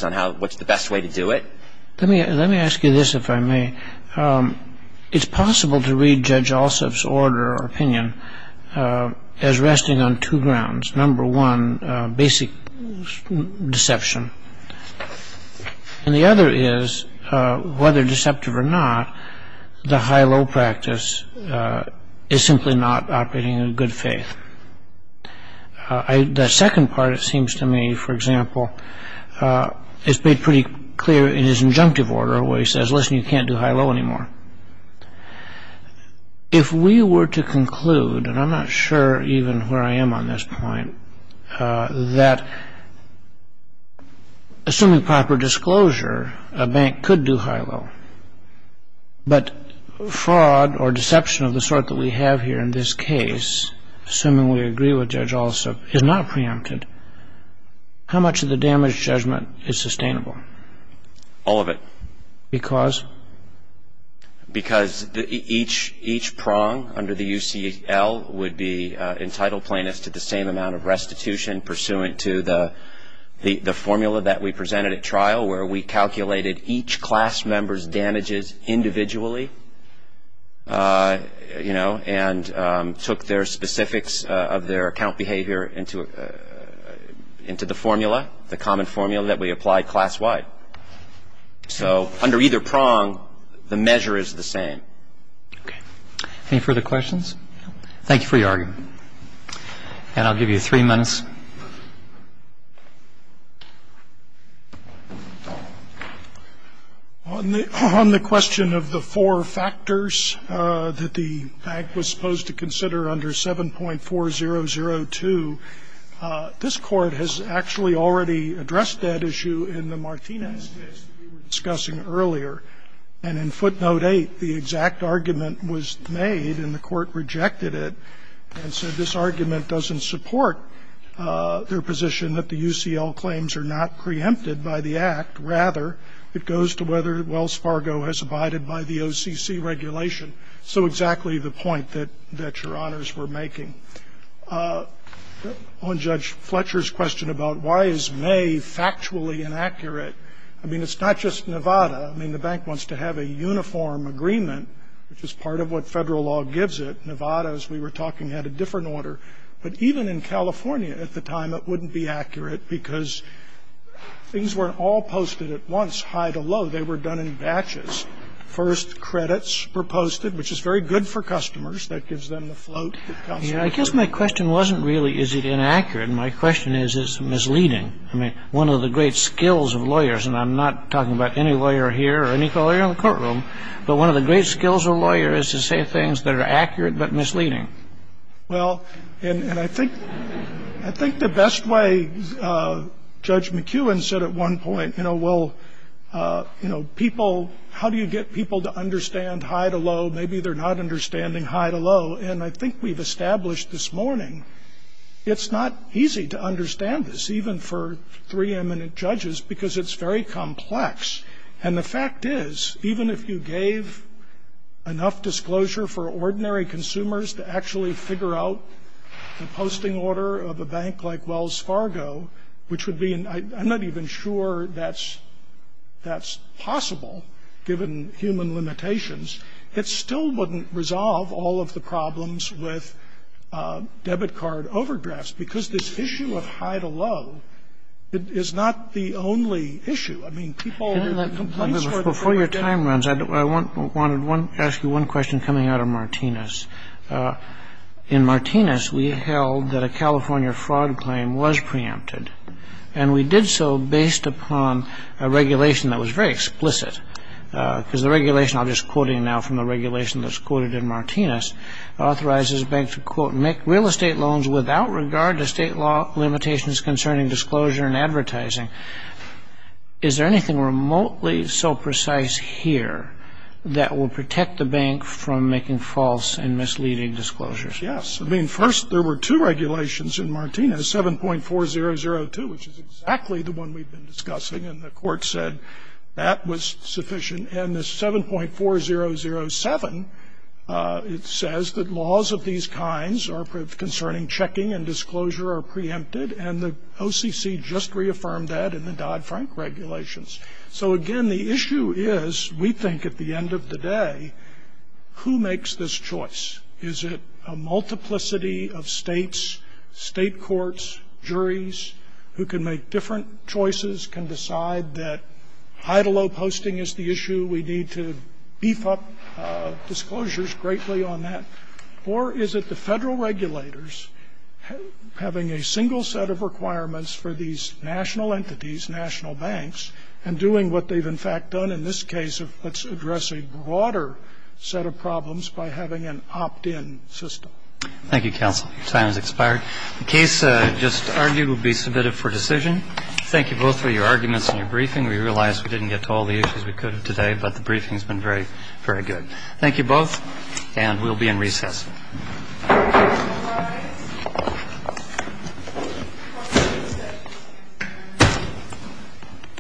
on how, what's the best way to do it? Let me ask you this, if I may. It's possible to read Judge Allsup's order or opinion as resting on two grounds, number one, basic deception. And the other is, whether deceptive or not, the high-low practice is simply not operating in good faith. The second part, it seems to me, for example, is made pretty clear in his injunctive order where he says, listen, you can't do high-low anymore. If we were to conclude, and I'm not sure even where I am on this point, that assuming proper disclosure, a bank could do high-low, but fraud or deception of the sort that we have here in this case, assuming we agree with Judge Allsup, is not preempted, how much of the damage judgment is sustainable? All of it. Because? Because each prong under the UCL would be entitled plaintiffs to the same amount of restitution pursuant to the formula that we presented at trial where we calculated each class member's damages individually, you know, and took their specifics of their account behavior into the formula, the common formula that we applied class-wide. So under either prong, the measure is the same. Any further questions? No. Thank you for your argument. And I'll give you three minutes. On the question of the four factors that the bank was supposed to consider under 7.4002, this Court has actually already addressed that issue in the Martinez case that we were discussing earlier. And in footnote 8, the exact argument was made, and the Court rejected it, and said this argument doesn't support their position that the UCL claims are not preempted by the Act. Rather, it goes to whether Wells Fargo has abided by the OCC regulation. So exactly the point that your honors were making. On Judge Fletcher's question about why is May factually inaccurate, I mean, it's not just Nevada. I mean, the bank wants to have a uniform agreement, which is part of what Federal law gives it. Nevada, as we were talking, had a different order. But even in California at the time, it wouldn't be accurate because things weren't all posted at once, high to low. They were done in batches. First, credits were posted, which is very good for customers. That gives them the float. I guess my question wasn't really is it inaccurate. My question is it's misleading. I mean, one of the great skills of lawyers, and I'm not talking about any lawyer here or any lawyer in the courtroom, but one of the great skills of a lawyer is to say things that are accurate but misleading. Well, and I think the best way Judge McEwen said at one point, you know, well, you know, people, how do you get people to understand high to low? Maybe they're not understanding high to low. And I think we've established this morning it's not easy to understand this, even for three eminent judges, because it's very complex. And the fact is, even if you gave enough disclosure for ordinary consumers to actually figure out the posting order of a bank like Wells Fargo, which would be and I'm not even sure that's possible given human limitations, it still wouldn't resolve all of the problems with debit card overdrafts, because this issue of high to low is not the only issue. I mean, people are complaining. Before your time runs, I wanted to ask you one question coming out of Martinez. In Martinez, we held that a California fraud claim was preempted. And we did so based upon a regulation that was very explicit, because the regulation I'm just quoting now from the regulation that's quoted in Martinez, authorizes a bank to, quote, make real estate loans without regard to state law limitations concerning disclosure and advertising. Is there anything remotely so precise here that will protect the bank from making false and misleading disclosures? Yes. I mean, first, there were two regulations in Martinez, 7.4002, which is exactly the one we've been discussing. And the court said that was sufficient. And the 7.4007, it says that laws of these kinds concerning checking and disclosure are preempted, and the OCC just reaffirmed that in the Dodd-Frank regulations. So, again, the issue is, we think at the end of the day, who makes this choice? Is it a multiplicity of states, state courts, juries, who can make different choices, can decide that high-to-low posting is the issue, we need to beef up disclosures greatly on that? Or is it the Federal regulators having a single set of requirements for these national entities, national banks, and doing what they've in fact done in this case of let's address a broader set of problems by having an opt-in system? Thank you, counsel. Your time has expired. The case just argued will be submitted for decision. Thank you both for your arguments and your briefing. We realize we didn't get to all the issues we could have today, but the briefing has been very, very good. Thank you both, and we'll be in recess. Thank you.